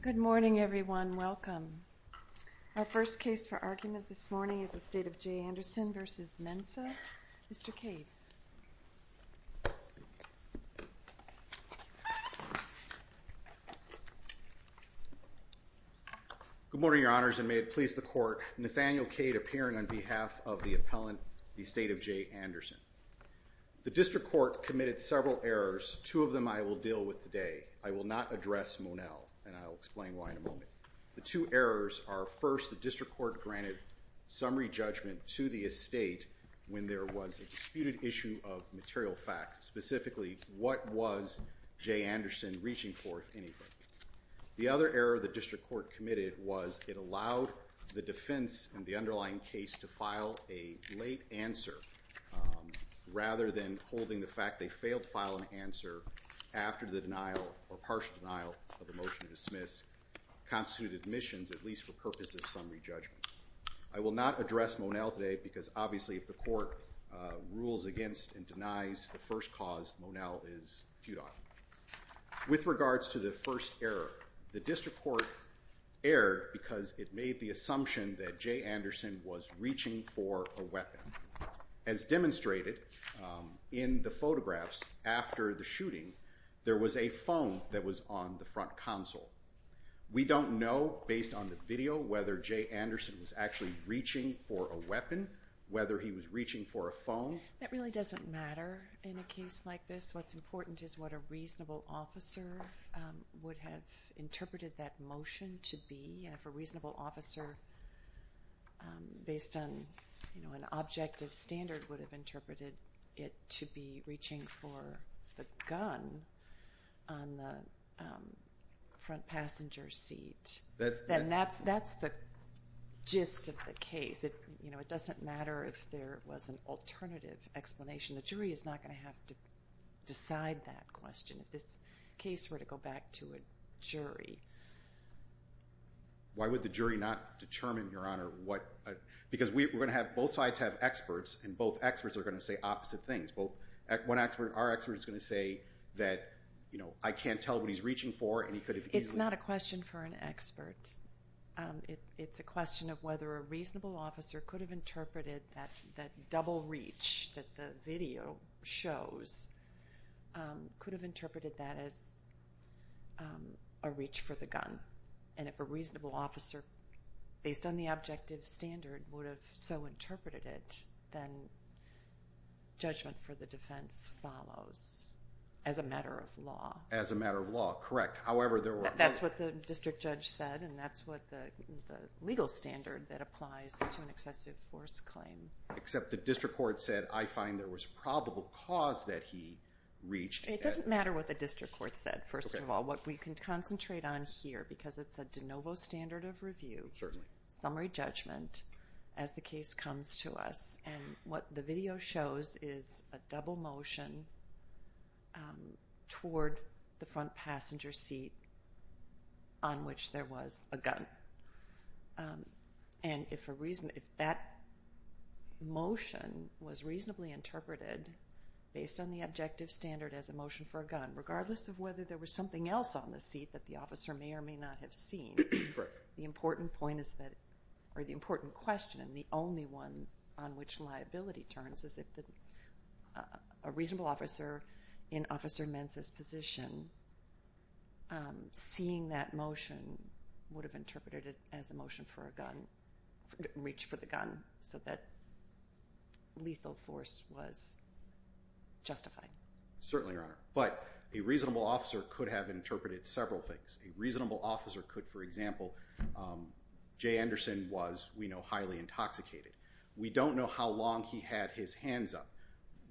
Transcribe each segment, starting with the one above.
Good morning, everyone. Welcome. Our first case for argument this morning is the State of Jay Anderson v. Mensah. Mr. Cade. Good morning, Your Honors, and may it please the Court, Nathaniel Cade appearing on behalf of the appellant, the State of Jay Anderson. The District Court committed several errors, two of them I will deal with today. I will not address Monell, and I will explain why in a moment. The two errors are, first, the District Court granted summary judgment to the estate when there was a disputed issue of material facts, specifically, what was Jay Anderson reaching for, if anything. The other error the District Court committed was that it allowed the defense in the underlying case to file a late answer, rather than holding the fact they failed to file an answer after the denial or partial denial of a motion to dismiss constituted admissions, at least for purposes of summary judgment. I will not address Monell today because, obviously, if the Court rules against and denies the first cause, Monell is feudant. With regards to the first error, the District Court erred because it made the assumption that Jay Anderson was reaching for a weapon. As demonstrated in the photographs after the shooting, there was a phone that was on the front console. We don't know, based on the video, whether Jay Anderson was actually reaching for a weapon, whether he was reaching for a phone. That really doesn't matter in a case like this. What's important is what a reasonable officer would have interpreted that motion to be. If a reasonable officer, based on an objective standard, would have interpreted it to be reaching for the gun on the front passenger seat, then that's the gist of the case. It doesn't matter if there was an alternative explanation. The jury is not going to have to decide that question. If this case were to go back to a jury... Why would the jury not determine, Your Honor, what... Because we're going to have... Both sides have experts, and both experts are going to say opposite things. Our expert is going to say that, you know, I can't tell what he's reaching for, and he could have easily... It's not a question for an expert. It's a question of whether a reasonable officer could have interpreted that double reach that the video shows, could have interpreted that as a reach for the gun. If a reasonable officer, based on the objective standard, would have so interpreted it, then judgment for the defense follows as a matter of law. As a matter of law, correct. However, there were... That's what the district judge said, and that's what the legal standard that applies to an excessive force claim. Except the district court said, I find there was probable cause that he reached... It doesn't matter what the district court said, first of all. What we can concentrate on here, because it's a de novo standard of review, summary judgment, as the case comes to us, and what the video shows is a double motion toward the front passenger seat on which there was a gun. And if that motion was reasonably interpreted based on the objective standard as a motion for a gun, regardless of whether there was something else on the seat that the officer may or may not have seen, the important point is that, or the question, the only one on which liability turns is if a reasonable officer in Officer Mensa's position, seeing that motion, would have interpreted it as a motion for a gun, reach for the gun, so that lethal force was justified. Certainly, Your Honor. But a reasonable officer could have interpreted several things. A reasonable officer is highly intoxicated. We don't know how long he had his hands up,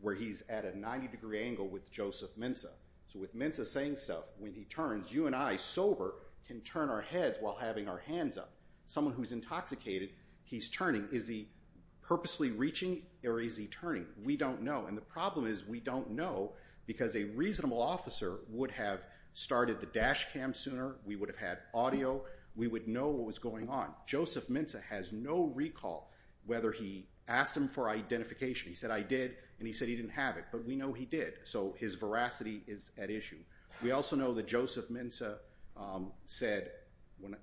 where he's at a 90 degree angle with Joseph Mensa. So with Mensa saying stuff, when he turns, you and I, sober, can turn our heads while having our hands up. Someone who's intoxicated, he's turning. Is he purposely reaching, or is he turning? We don't know. And the problem is we don't know, because a reasonable officer would have started the dash cam sooner, we would have had audio, we would know what was going on. Joseph Mensa has no recall whether he asked him for identification. He said, I did, and he said he didn't have it. But we know he did. So his veracity is at issue. We also know that Joseph Mensa said,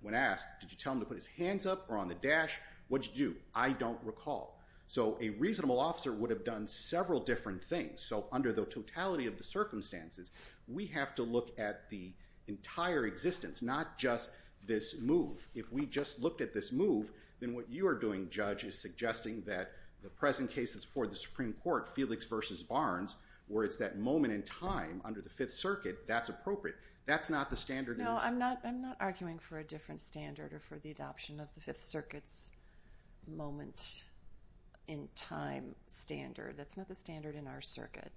when asked, did you tell him to put his hands up or on the dash? What did you do? I don't recall. So a reasonable officer would have done several different things. So under the totality of the circumstances, we have to look at the entire existence, not just this move. If we just looked at this move, then what you are doing, Judge, is suggesting that the present case that's before the Supreme Court, Felix v. Barnes, where it's that moment in time under the Fifth Circuit, that's appropriate. That's not the standard in our circuit. No, I'm not arguing for a different standard or for the adoption of the Fifth Circuit's moment in time standard. That's not the standard in our circuit.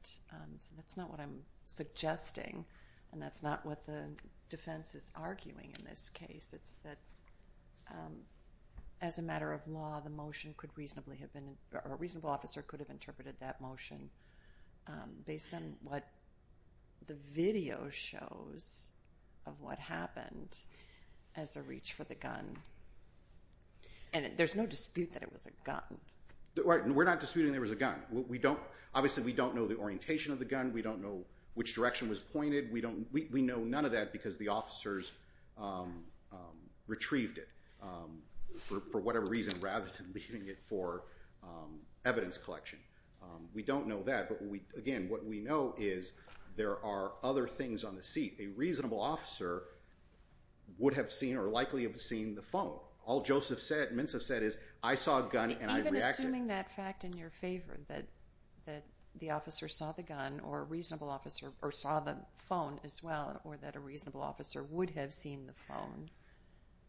That's not what I'm suggesting, and that's not what the defense is arguing in this case. It's that as a matter of law, the motion could reasonably have been, or a reasonable officer could have interpreted that motion based on what the video shows of what happened as a reach for the gun. And there's no dispute that it was a gun. Right. We're not disputing there was a gun. Obviously, we don't know the orientation of the gun. We don't know which direction was pointed. We know none of that because the officers retrieved it for whatever reason rather than leaving it for evidence collection. We don't know that, but again, what we know is there are other things on the seat. A reasonable officer would have seen or likely have seen the phone. All Joseph said, Mintz has said, is, I saw a gun and I reacted. Even assuming that fact in your favor, that the officer saw the gun or a reasonable officer or saw the phone as well or that a reasonable officer would have seen the phone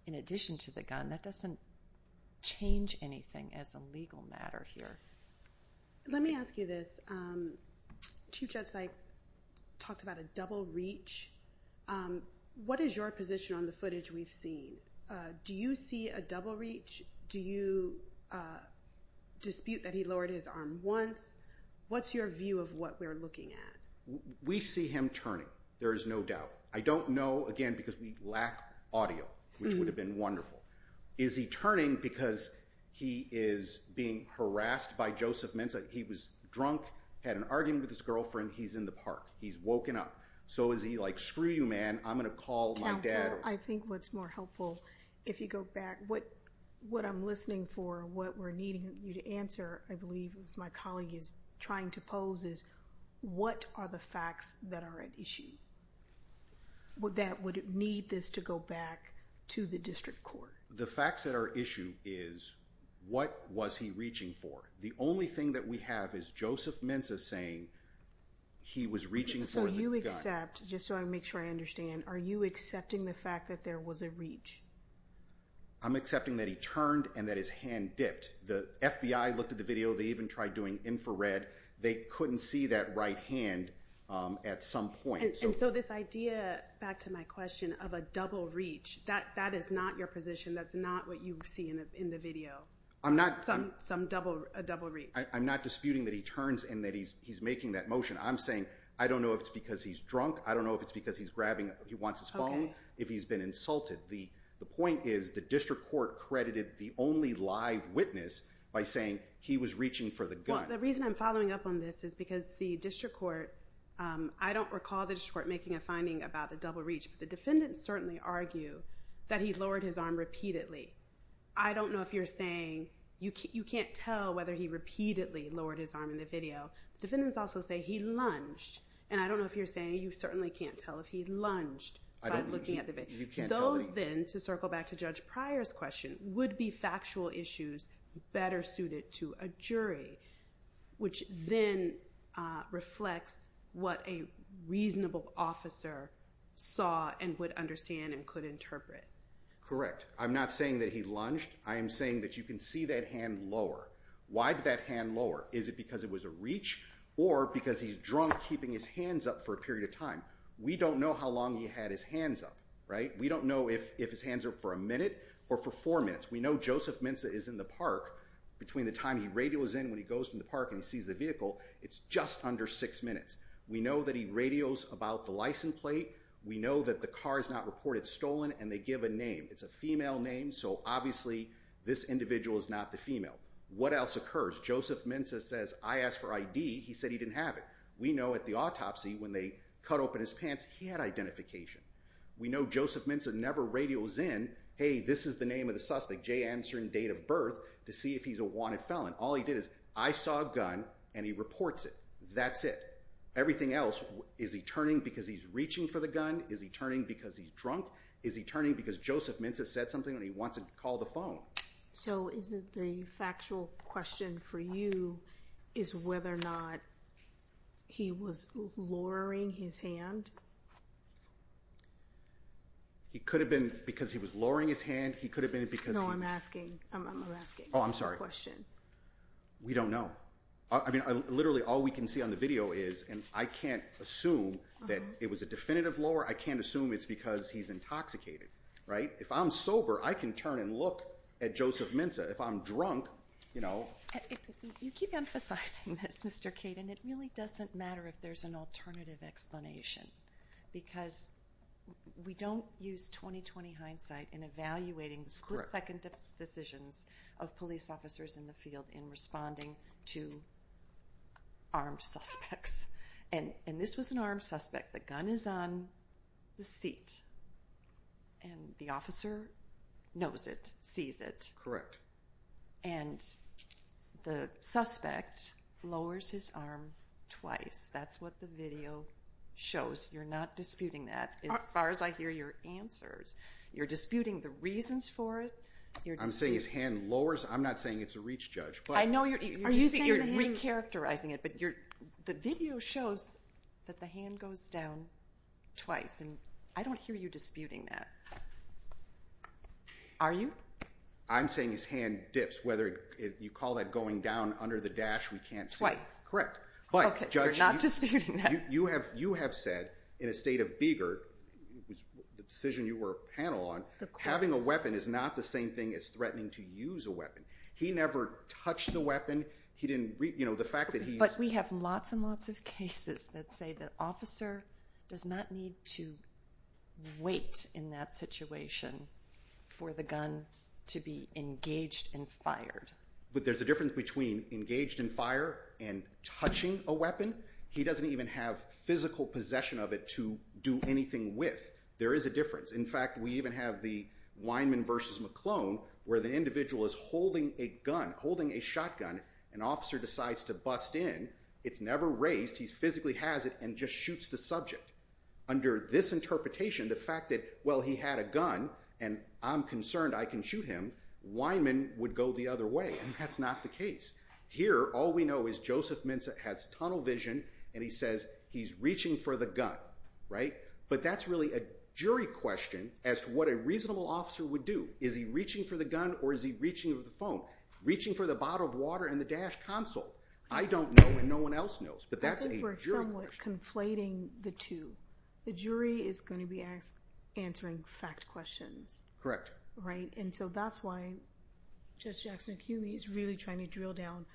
in addition to the gun, that doesn't change anything as a legal matter here. Let me ask you this. Chief Judge Sykes talked about a double reach. What is your position on the footage we've seen? Do you see a double reach? Do you dispute that he lowered his arm once? What's your view of what we're looking at? We see him turning. There is no doubt. I don't know, again, because we lack audio, which is why Joseph Mintz, he was drunk, had an argument with his girlfriend. He's in the park. He's woken up. So is he like, screw you, man. I'm going to call my dad. Counsel, I think what's more helpful, if you go back, what I'm listening for, what we're needing you to answer, I believe, is my colleague is trying to pose is, what are the facts that are at issue that would need this to go back to the district court? The facts that are at issue is, what was he reaching for? The only thing that we have is Joseph Mintz saying he was reaching for the gun. So you accept, just so I make sure I understand, are you accepting the fact that there was a reach? I'm accepting that he turned and that his hand dipped. The FBI looked at the video. They even tried doing infrared. They couldn't see that right hand at some point. And so this idea, back to my question, of a reach, and that's not what you see in the video, some double reach. I'm not disputing that he turns and that he's making that motion. I'm saying, I don't know if it's because he's drunk. I don't know if it's because he's grabbing, he wants his phone, if he's been insulted. The point is, the district court credited the only live witness by saying he was reaching for the gun. Well, the reason I'm following up on this is because the district court, I don't recall the district court making a finding about a double reach, but the defendants certainly argue that he lowered his arm repeatedly. I don't know if you're saying, you can't tell whether he repeatedly lowered his arm in the video. Defendants also say he lunged. And I don't know if you're saying you certainly can't tell if he lunged by looking at the video. Those then, to circle back to Judge Pryor's question, would be factual issues better suited to a jury, which then reflects what a reasonable officer saw and would understand and could interpret. Correct. I'm not saying that he lunged. I am saying that you can see that hand lower. Why did that hand lower? Is it because it was a reach or because he's drunk keeping his hands up for a period of time? We don't know how long he had his hands up, right? We don't know if his hands are up for a minute or for four minutes. We know Joseph Mensa is in the park between the time he radios in when he goes to the park and sees the vehicle. It's just under six minutes. We know that he radios about the license plate. We know that the car is not reported stolen and they give a name. It's a female name. So obviously this individual is not the female. What else occurs? Joseph Mensa says, I asked for ID. He said he didn't have it. We know at the autopsy when they cut open his pants, he had identification. We know Joseph Mensa never radios in, hey, this is the name of the suspect, Jay answering date of birth to see if he's a wanted felon. All he did is I saw a gun and he reports it. That's it. Everything else is he turning because he's reaching for the gun? Is he turning because he's drunk? Is he turning because Joseph Mensa said something when he wants to call the phone? So is it the factual question for you is whether or not he was lowering his hand? He could have been because he was lowering his hand. He could all we can see on the video is, and I can't assume that it was a definitive lower. I can't assume it's because he's intoxicated, right? If I'm sober, I can turn and look at Joseph Mensa. If I'm drunk, you know, you keep emphasizing this, Mr. Kate, and it really doesn't matter if there's an alternative explanation because we don't use 2020 hindsight in evaluating split decisions of police officers in the field in responding to armed suspects. And this was an armed suspect. The gun is on the seat and the officer knows it, sees it. And the suspect lowers his arm twice. That's what the video shows. You're not disputing that. As far as I hear your answers, you're disputing the reasons for it. I'm saying his hand lowers. I'm not saying it's a reach judge. I know you're recharacterizing it, but the video shows that the hand goes down twice. And I don't hear you disputing that. Are you? I'm saying his hand dips, whether you call that going down under the dash, we can't say. Twice. Correct. But judge, you have said in a state of eager, the decision you were a panel on, having a weapon is not the same thing as threatening to use a weapon. He never touched the weapon. He didn't, you know, the fact that he... But we have lots and lots of cases that say the officer does not need to wait in that situation for the gun to be engaged and fired. But there's a difference between engaged in fire and touching a weapon. He doesn't even have physical possession of it to do anything with. There is a difference. In fact, we even have the Weinman versus McClone, where the individual is holding a gun, holding a shotgun. An officer decides to bust in. It's never raised. He's physically has it and just shoots the subject. Under this interpretation, the fact that, well, he had a gun and I'm concerned I can shoot him, Weinman would go the other way. And that's not the case. Here, all we know is Joseph Minza has tunnel vision and he says he's reaching for the gun. Right. But that's really a jury question as to what a reasonable officer would do. Is he reaching for the gun or is he reaching for the phone, reaching for the bottle of water and the dash console? I don't know and no one else knows, but that's a jury question. I think we're somewhat conflating the two. The jury is going to be answering fact questions. Correct. Right. And that's why Judge Jackson is really trying to drill down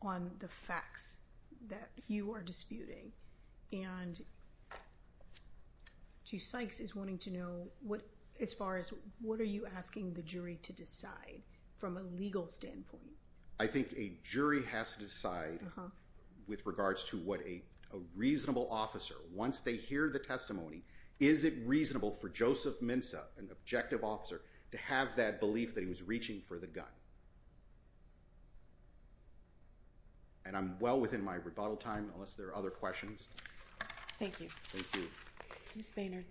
on the facts that you are disputing and Chief Sykes is wanting to know what as far as what are you asking the jury to decide from a legal standpoint? I think a jury has to decide with regards to what a reasonable officer, once they hear the testimony, is it reasonable for Joseph Minza, an objective officer, to have that belief that he was reaching for the gun? And I'm well within my rebuttal time unless there are other questions. Thank you. Thank you. Ms. Baynard.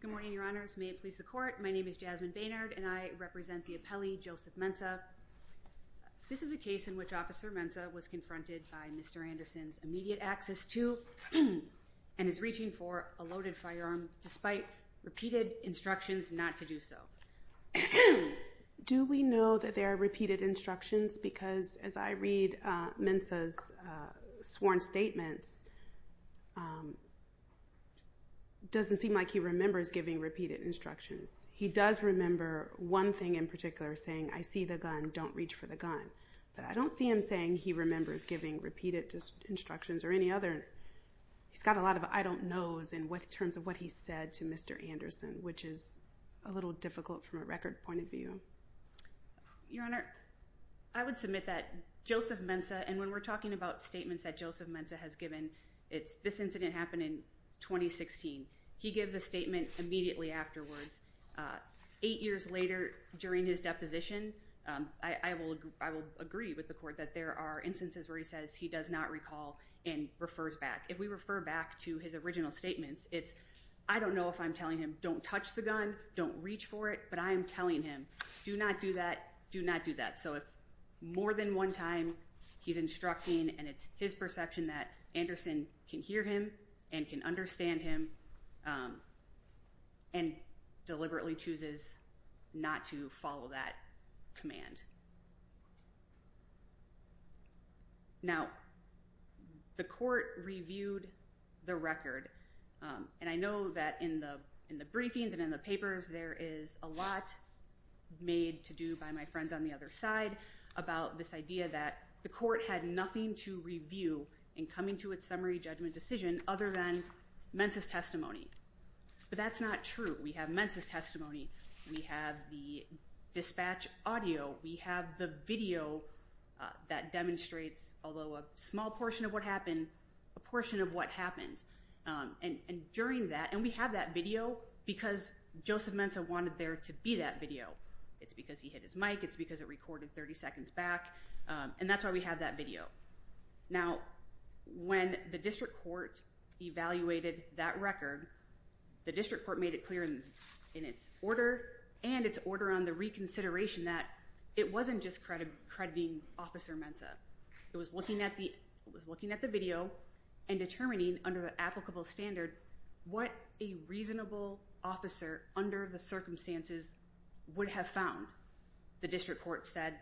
Good morning, Your Honors. May it please the Court. My name is Jasmine Baynard and I represent the appellee Joseph Minza. This is a case in which Officer Minza was confronted by Mr. Anderson's repeated instructions not to do so. Do we know that there are repeated instructions? Because as I read Minza's sworn statements, it doesn't seem like he remembers giving repeated instructions. He does remember one thing in particular saying, I see the gun, don't reach for the gun. But I don't see him saying he remembers giving repeated instructions or any other. He's got a lot of I don't knows in terms of what he said to Mr. Anderson, which is a little difficult from a record point of view. Your Honor, I would submit that Joseph Minza, and when we're talking about statements that Joseph Minza has given, this incident happened in 2016. He gives a statement immediately afterwards. Eight years later during his deposition, I will agree with the Court that there are instances where he says he does not recall and refers back. If we refer back to his original statements, it's I don't know if I'm telling him don't touch the gun, don't reach for it, but I am telling him do not do that, do not do that. So if more than one time he's instructing and it's his perception that Anderson can hear him and can understand him and deliberately chooses not to follow that command. Now, the Court reviewed the record, and I know that in the briefings and in the papers there is a lot made to do by my friends on the other side about this idea that the Court had nothing to review in coming to its summary judgment decision other than Mensa's testimony. But that's not true. We have Mensa's testimony. We have the dispatch audio. We have the video that demonstrates, although a small portion of what happened, a portion of what happened. And during that, and we have that video because Joseph Minza wanted there to be that video. It's because he hit his mic. It's because it recorded 30 seconds back. And that's why we have that video. Now, when the District Court evaluated that record, the District Court made it clear in its order and its order on the reconsideration that it wasn't just crediting Officer Mensa. It was looking at the video and determining under the applicable standard what a reasonable officer under the circumstances would have found. The District Court said,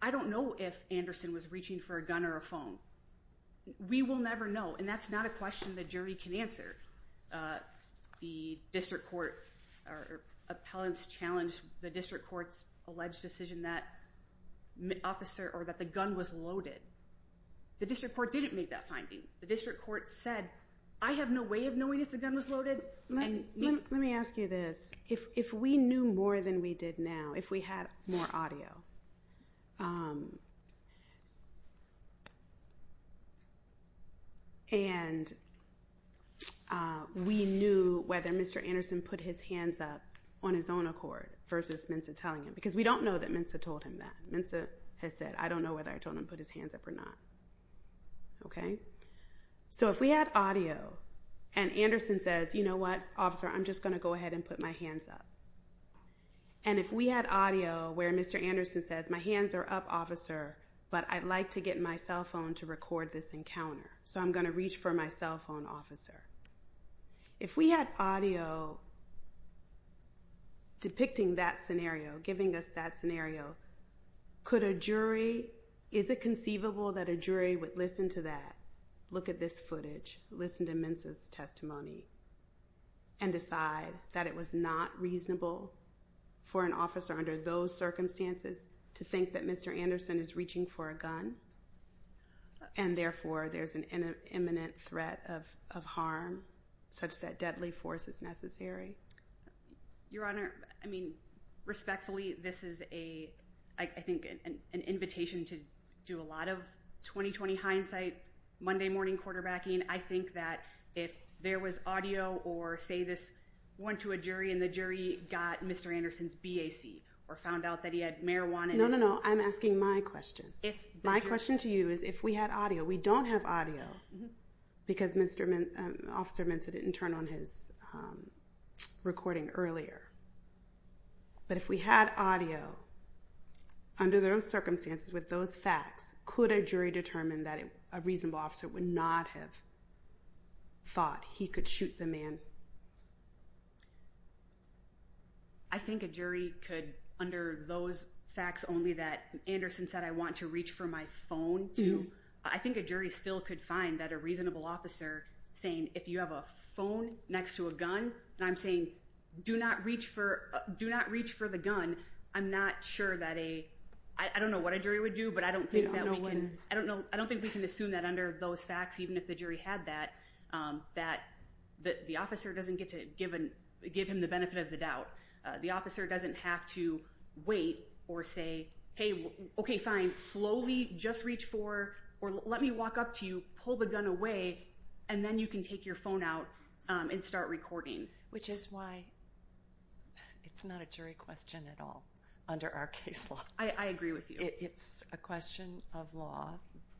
I don't know if Anderson was reaching for a gun or a phone. We will never know. And that's not a question the jury can answer. The District Court or appellants challenged the District Court's alleged decision that officer or that the gun was loaded. The District Court didn't make that finding. The District Court said, I have no way of knowing if the gun was loaded. Let me ask you this. If we knew more than we did now, if we had more audio, and we knew whether Mr. Anderson put his hands up on his own accord versus Minza telling him, because we don't know that Minza told him that. Minza has said, I don't know whether I told him to put his hands up or not. Okay? So if we had audio and Anderson says, you know what, officer, I'm just going to go ahead and put my hands up. And if we had audio where Mr. Anderson says, my hands are up, officer, but I'd like to get my cell phone to record this encounter. So I'm going to reach for my cell phone, officer. If we had audio depicting that scenario, giving us that scenario, could a jury, is it conceivable that a jury would listen to that, look at this footage, listen to Minza's testimony, and decide that it was not reasonable for an officer under those circumstances to think that Mr. Anderson is reaching for a gun and therefore there's an imminent threat of harm such that deadly force is necessary? Your Honor, I mean, respectfully, this is a, I think an invitation to do a lot of 20-20 hindsight, Monday morning quarterbacking. I think that if there was audio or say this went to a jury and the jury got Mr. Anderson's BAC or found out that he had marijuana. No, no, no. I'm asking my question. My question to you is if we had audio, we don't have audio because Mr. Officer Minza didn't turn on his recording earlier. But if we had audio under those circumstances with those facts, could a jury determine that a reasonable officer would not have thought he could shoot the man? I think a jury could under those facts only that Anderson said I want to reach for my phone to, I think a jury still could find that a reasonable officer saying if you have a phone next to a gun and I'm saying do not reach for, do not reach for the gun, I'm not sure that a, I don't know what a jury would do, but I don't think that we can, I don't think we can assume that under those facts, even if the jury had that, that the officer doesn't get to give him the benefit of the doubt. The officer doesn't have to wait or say, hey, okay, fine, slowly just reach for or let me walk up to you, pull the gun away, and then you can take your phone out and start recording. Which is why it's not a jury question at all under our case law. I agree with you. It's a question of law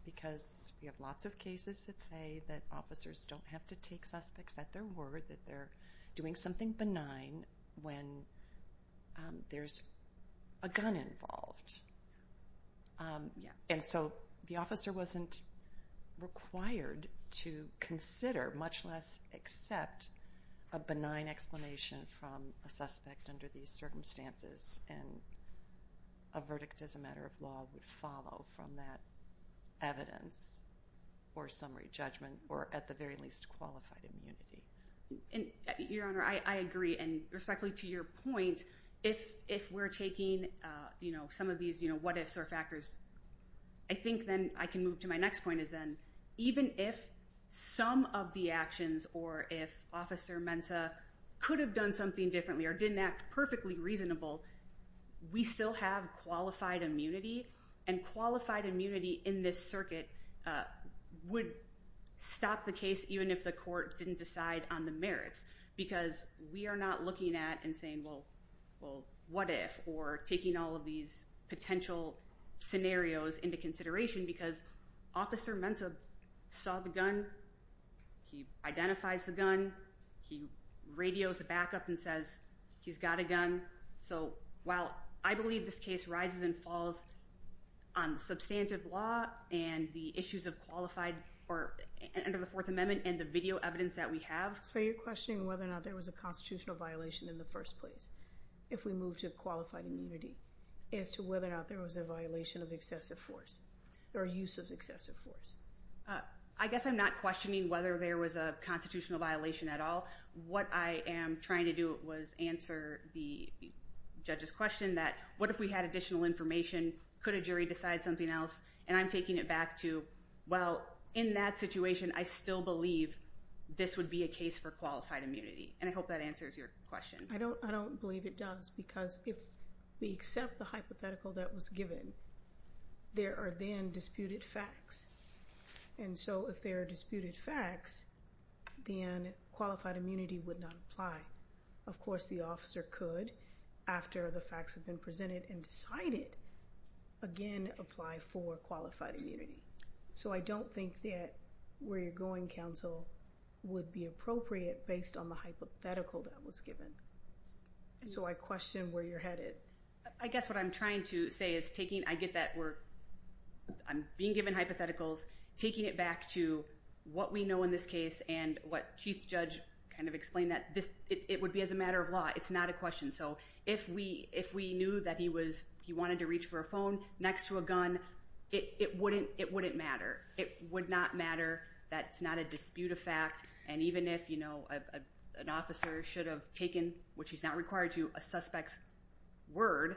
because we have lots of cases that say that officers don't have to take suspects at their word, that they're doing something benign when there's a gun involved. And so the officer wasn't required to consider, much less accept, a benign explanation from a suspect under these circumstances and a verdict as a matter of law would follow from that evidence or summary judgment or at the very least qualified immunity. Your Honor, I agree and respectfully to your point, if we're taking some of these what ifs or factors, I think then I can move to my next point is then even if some of the actions or if Officer Mensa could have done something differently or didn't act perfectly reasonable, we still have qualified immunity and qualified immunity in this circuit would stop the case even if the court didn't decide on the merits because we are not looking at and saying, well, what if or taking all of these potential scenarios into consideration because Officer Mensa saw the gun, he identifies the gun, he radios the backup and says he's got a gun. So while I believe this case rises and falls on substantive law and the issues of qualified or under the Fourth Amendment and the video evidence that we have. So you're questioning whether or not there was a constitutional violation in the first place if we move to qualified immunity as to whether or not there was a violation of excessive force or use of excessive force. I guess I'm not questioning whether there was a constitutional violation at all. What I am trying to do was answer the judge's question that what if we had additional information, could a jury decide something else and I'm taking it back to, well, in that situation, I still believe this would be a case for qualified immunity and I hope that answers your question. I don't believe it does because if we accept the hypothetical that was given, there are then disputed facts and so if there are disputed facts, then qualified immunity would not apply. Of course, the officer could, after the facts have been presented and decided, again, apply for qualified immunity. So I don't think that where you're going, counsel, would be appropriate based on the hypothetical that was given. So I question where you're headed. I guess what I'm trying to say is taking, I get that we're, I'm being given hypotheticals, taking it back to what we know in this case and what Chief Judge kind of explained that it would be as a matter of law. It's not a question. So if we knew that he wanted to reach for a phone next to a gun, it wouldn't matter. It would not matter. That's not a dispute of fact and even if an officer should have taken, which he's not required to, a suspect's word,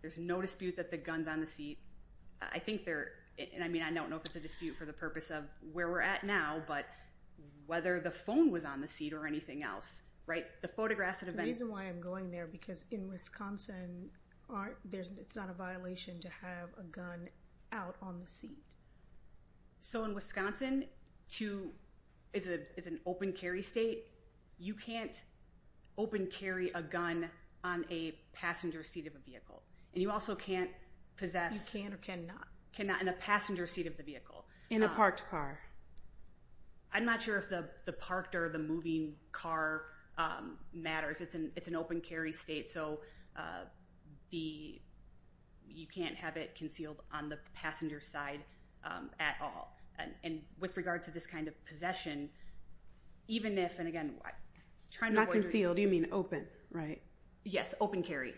there's no dispute that the gun's on the seat. I think there, and I mean, I don't know if it's a dispute for the purpose of where we're at now, but whether the phone was on the seat or anything else, right? The photographs that have been- To have a gun out on the seat. So in Wisconsin, too, is an open carry state. You can't open carry a gun on a passenger seat of a vehicle. And you also can't possess- You can or cannot. Cannot in a passenger seat of the vehicle. In a parked car. I'm not sure if the parked or the moving car matters. It's an open carry state. So the, you can't have it concealed on the passenger side at all. And with regard to this kind of possession, even if, and again, trying to avoid- Not concealed, you mean open, right? Yes, open carry.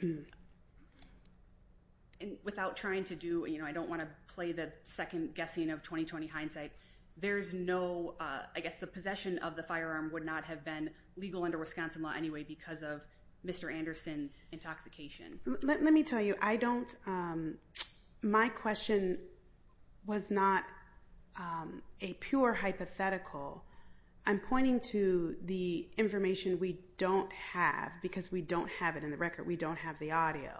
And without trying to do, you know, I don't want to play the second guessing of 20-20 hindsight. There's no, I guess the possession of the firearm would not have been under Wisconsin law anyway, because of Mr. Anderson's intoxication. Let me tell you, I don't, my question was not a pure hypothetical. I'm pointing to the information we don't have because we don't have it in the record. We don't have the audio.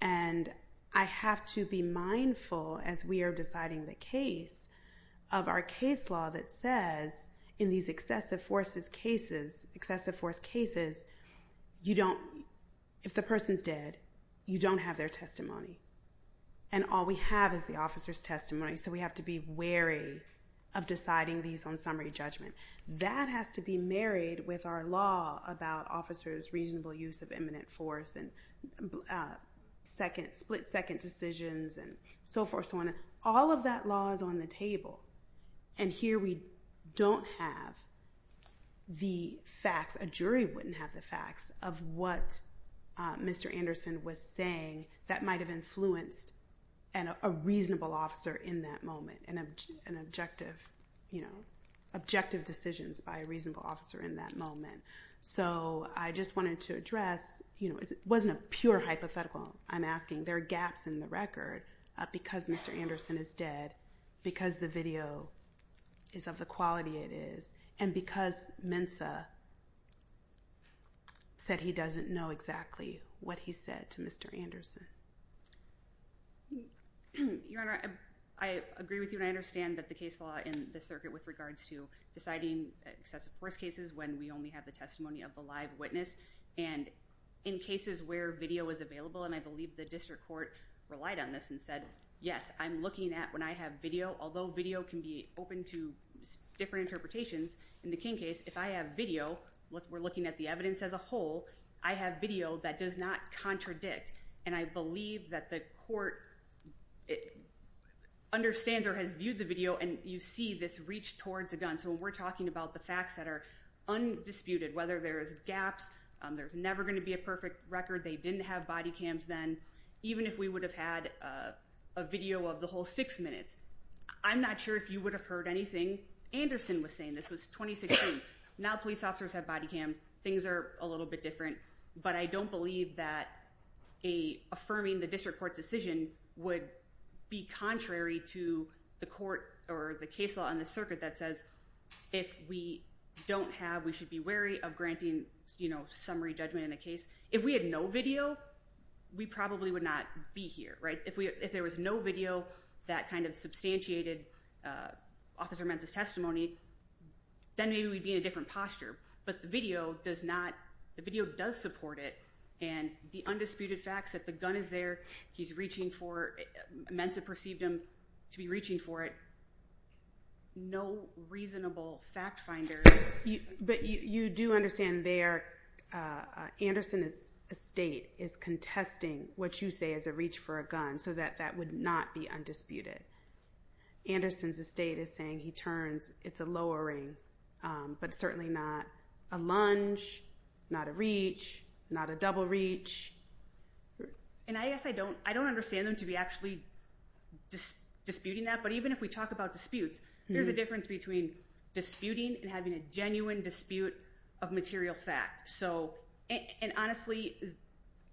And I have to be mindful as we are deciding the case of our case law that says in these excessive forces cases, excessive force cases, you don't, if the person's dead, you don't have their testimony. And all we have is the officer's testimony. So we have to be wary of deciding these on summary judgment. That has to be married with our law about officers' reasonable use of imminent force and split second decisions and so forth. So all of that law is on the table. And here we don't have the facts, a jury wouldn't have the facts of what Mr. Anderson was saying that might have influenced a reasonable officer in that moment, an objective, you know, objective decisions by a reasonable officer in that moment. So I just wanted to address, you know, it wasn't a pure hypothetical, I'm asking. There are gaps in the record because Mr. Anderson is dead, because the video is of the quality it is, and because Mensa said he doesn't know exactly what he said to Mr. Anderson. Your Honor, I agree with you and I understand that the case law in this circuit with regards to deciding excessive force cases when we only have the testimony of the live witness and in cases where video is available, and I believe the district court relied on this and said, yes, I'm looking at when I have video, although video can be open to different interpretations, in the King case, if I have video, we're looking at the evidence as a whole, I have video that does not contradict. And I believe that the court understands or has viewed the video and you see this reach towards a gun. So when we're talking about the facts that are undisputed, whether there's gaps, there's never going to be a perfect record, they didn't have body cams then, even if we would have had a video of the whole six minutes. I'm not sure if you would have heard anything Anderson was saying, this was 2016. Now police officers have body cam, things are a little bit different, but I don't believe that affirming the district court would be contrary to the court or the case law on the circuit that says if we don't have, we should be wary of granting summary judgment in a case. If we had no video, we probably would not be here. If there was no video that kind of substantiated officer Menta's testimony, then maybe we'd be in a different posture. But the video does support it and the undisputed facts that the gun is there, he's reaching for, Menta perceived him to be reaching for it, no reasonable fact finder. But you do understand there, Anderson's estate is contesting what you say is a reach for a gun, so that that would not be undisputed. Anderson's estate is saying he turns, it's a lowering, but certainly not a lunge, not a reach, not a double reach. And I guess I don't understand them to be actually disputing that. But even if we talk about disputes, there's a difference between disputing and having a genuine dispute of material fact. And honestly,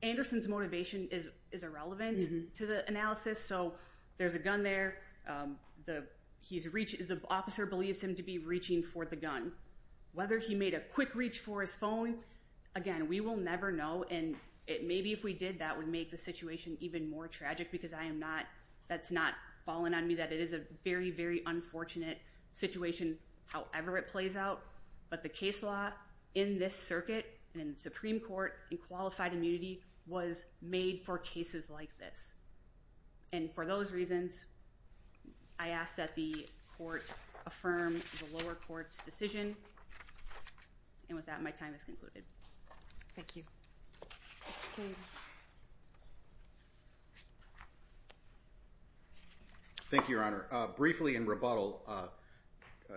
Anderson's motivation is irrelevant to the analysis. So there's a gun there, the officer believes him to be reaching for the gun. Whether he made a quick reach for his phone, again, we will never know. And maybe if we did, that would make the situation even more tragic because I am not, that's not falling on me that it is a very, very unfortunate situation, however it plays out. But the case law in this circuit and Supreme Court and qualified immunity was made for cases like this. And for those reasons, I ask that the court affirm the lower court's decision. And with that, my time is concluded. Thank you. Thank you, Your Honor. Briefly in rebuttal,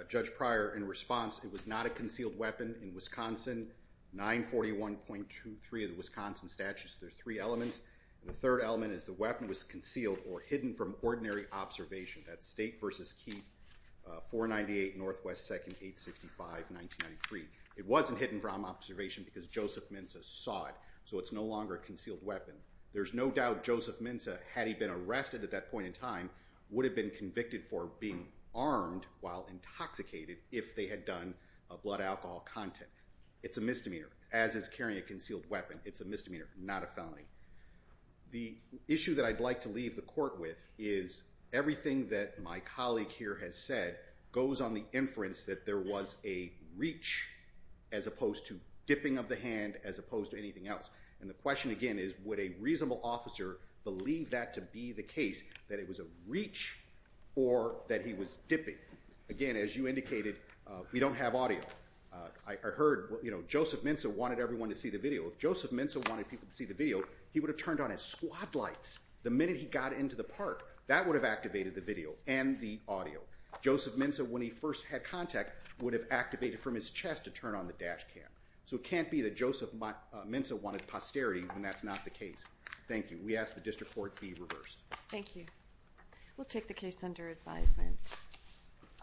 Judge Pryor in response, it was not a concealed weapon in Wisconsin, 941.23 of the Wisconsin Statutes. There are three elements. The third element is the weapon was concealed or hidden from ordinary observation. That's State v. Keith, 498 Northwest 2nd, 865, 1993. It wasn't hidden from observation because Joseph Minza saw it. So it's no longer a concealed weapon. There's no doubt Joseph Minza, had he been arrested at that point in time, would have been convicted for being armed while intoxicated if they had done blood alcohol content. It's a misdemeanor as is carrying a concealed weapon. It's a misdemeanor, not a felony. The issue that I'd like to leave the court with is everything that my colleague here has said goes on the inference that there was a reach as opposed to dipping of the hand, as opposed to anything else. And the question again is, would a reasonable officer believe that to be the case, that it was a reach or that he was dipping? Again, as you indicated, we don't have audio. I heard, you know, Joseph Minza wanted everyone to see the video. If Joseph Minza wanted people to see the video, he would have turned on his squad lights the minute he got into the park. That would have activated the video and the audio. Joseph Minza, when he first had contact, would have activated from his chest to turn on the dash cam. So it can't be that Joseph Minza wanted posterity when that's not the case. Thank you. We ask the district court be reversed. Thank you. We'll take the case under advisement.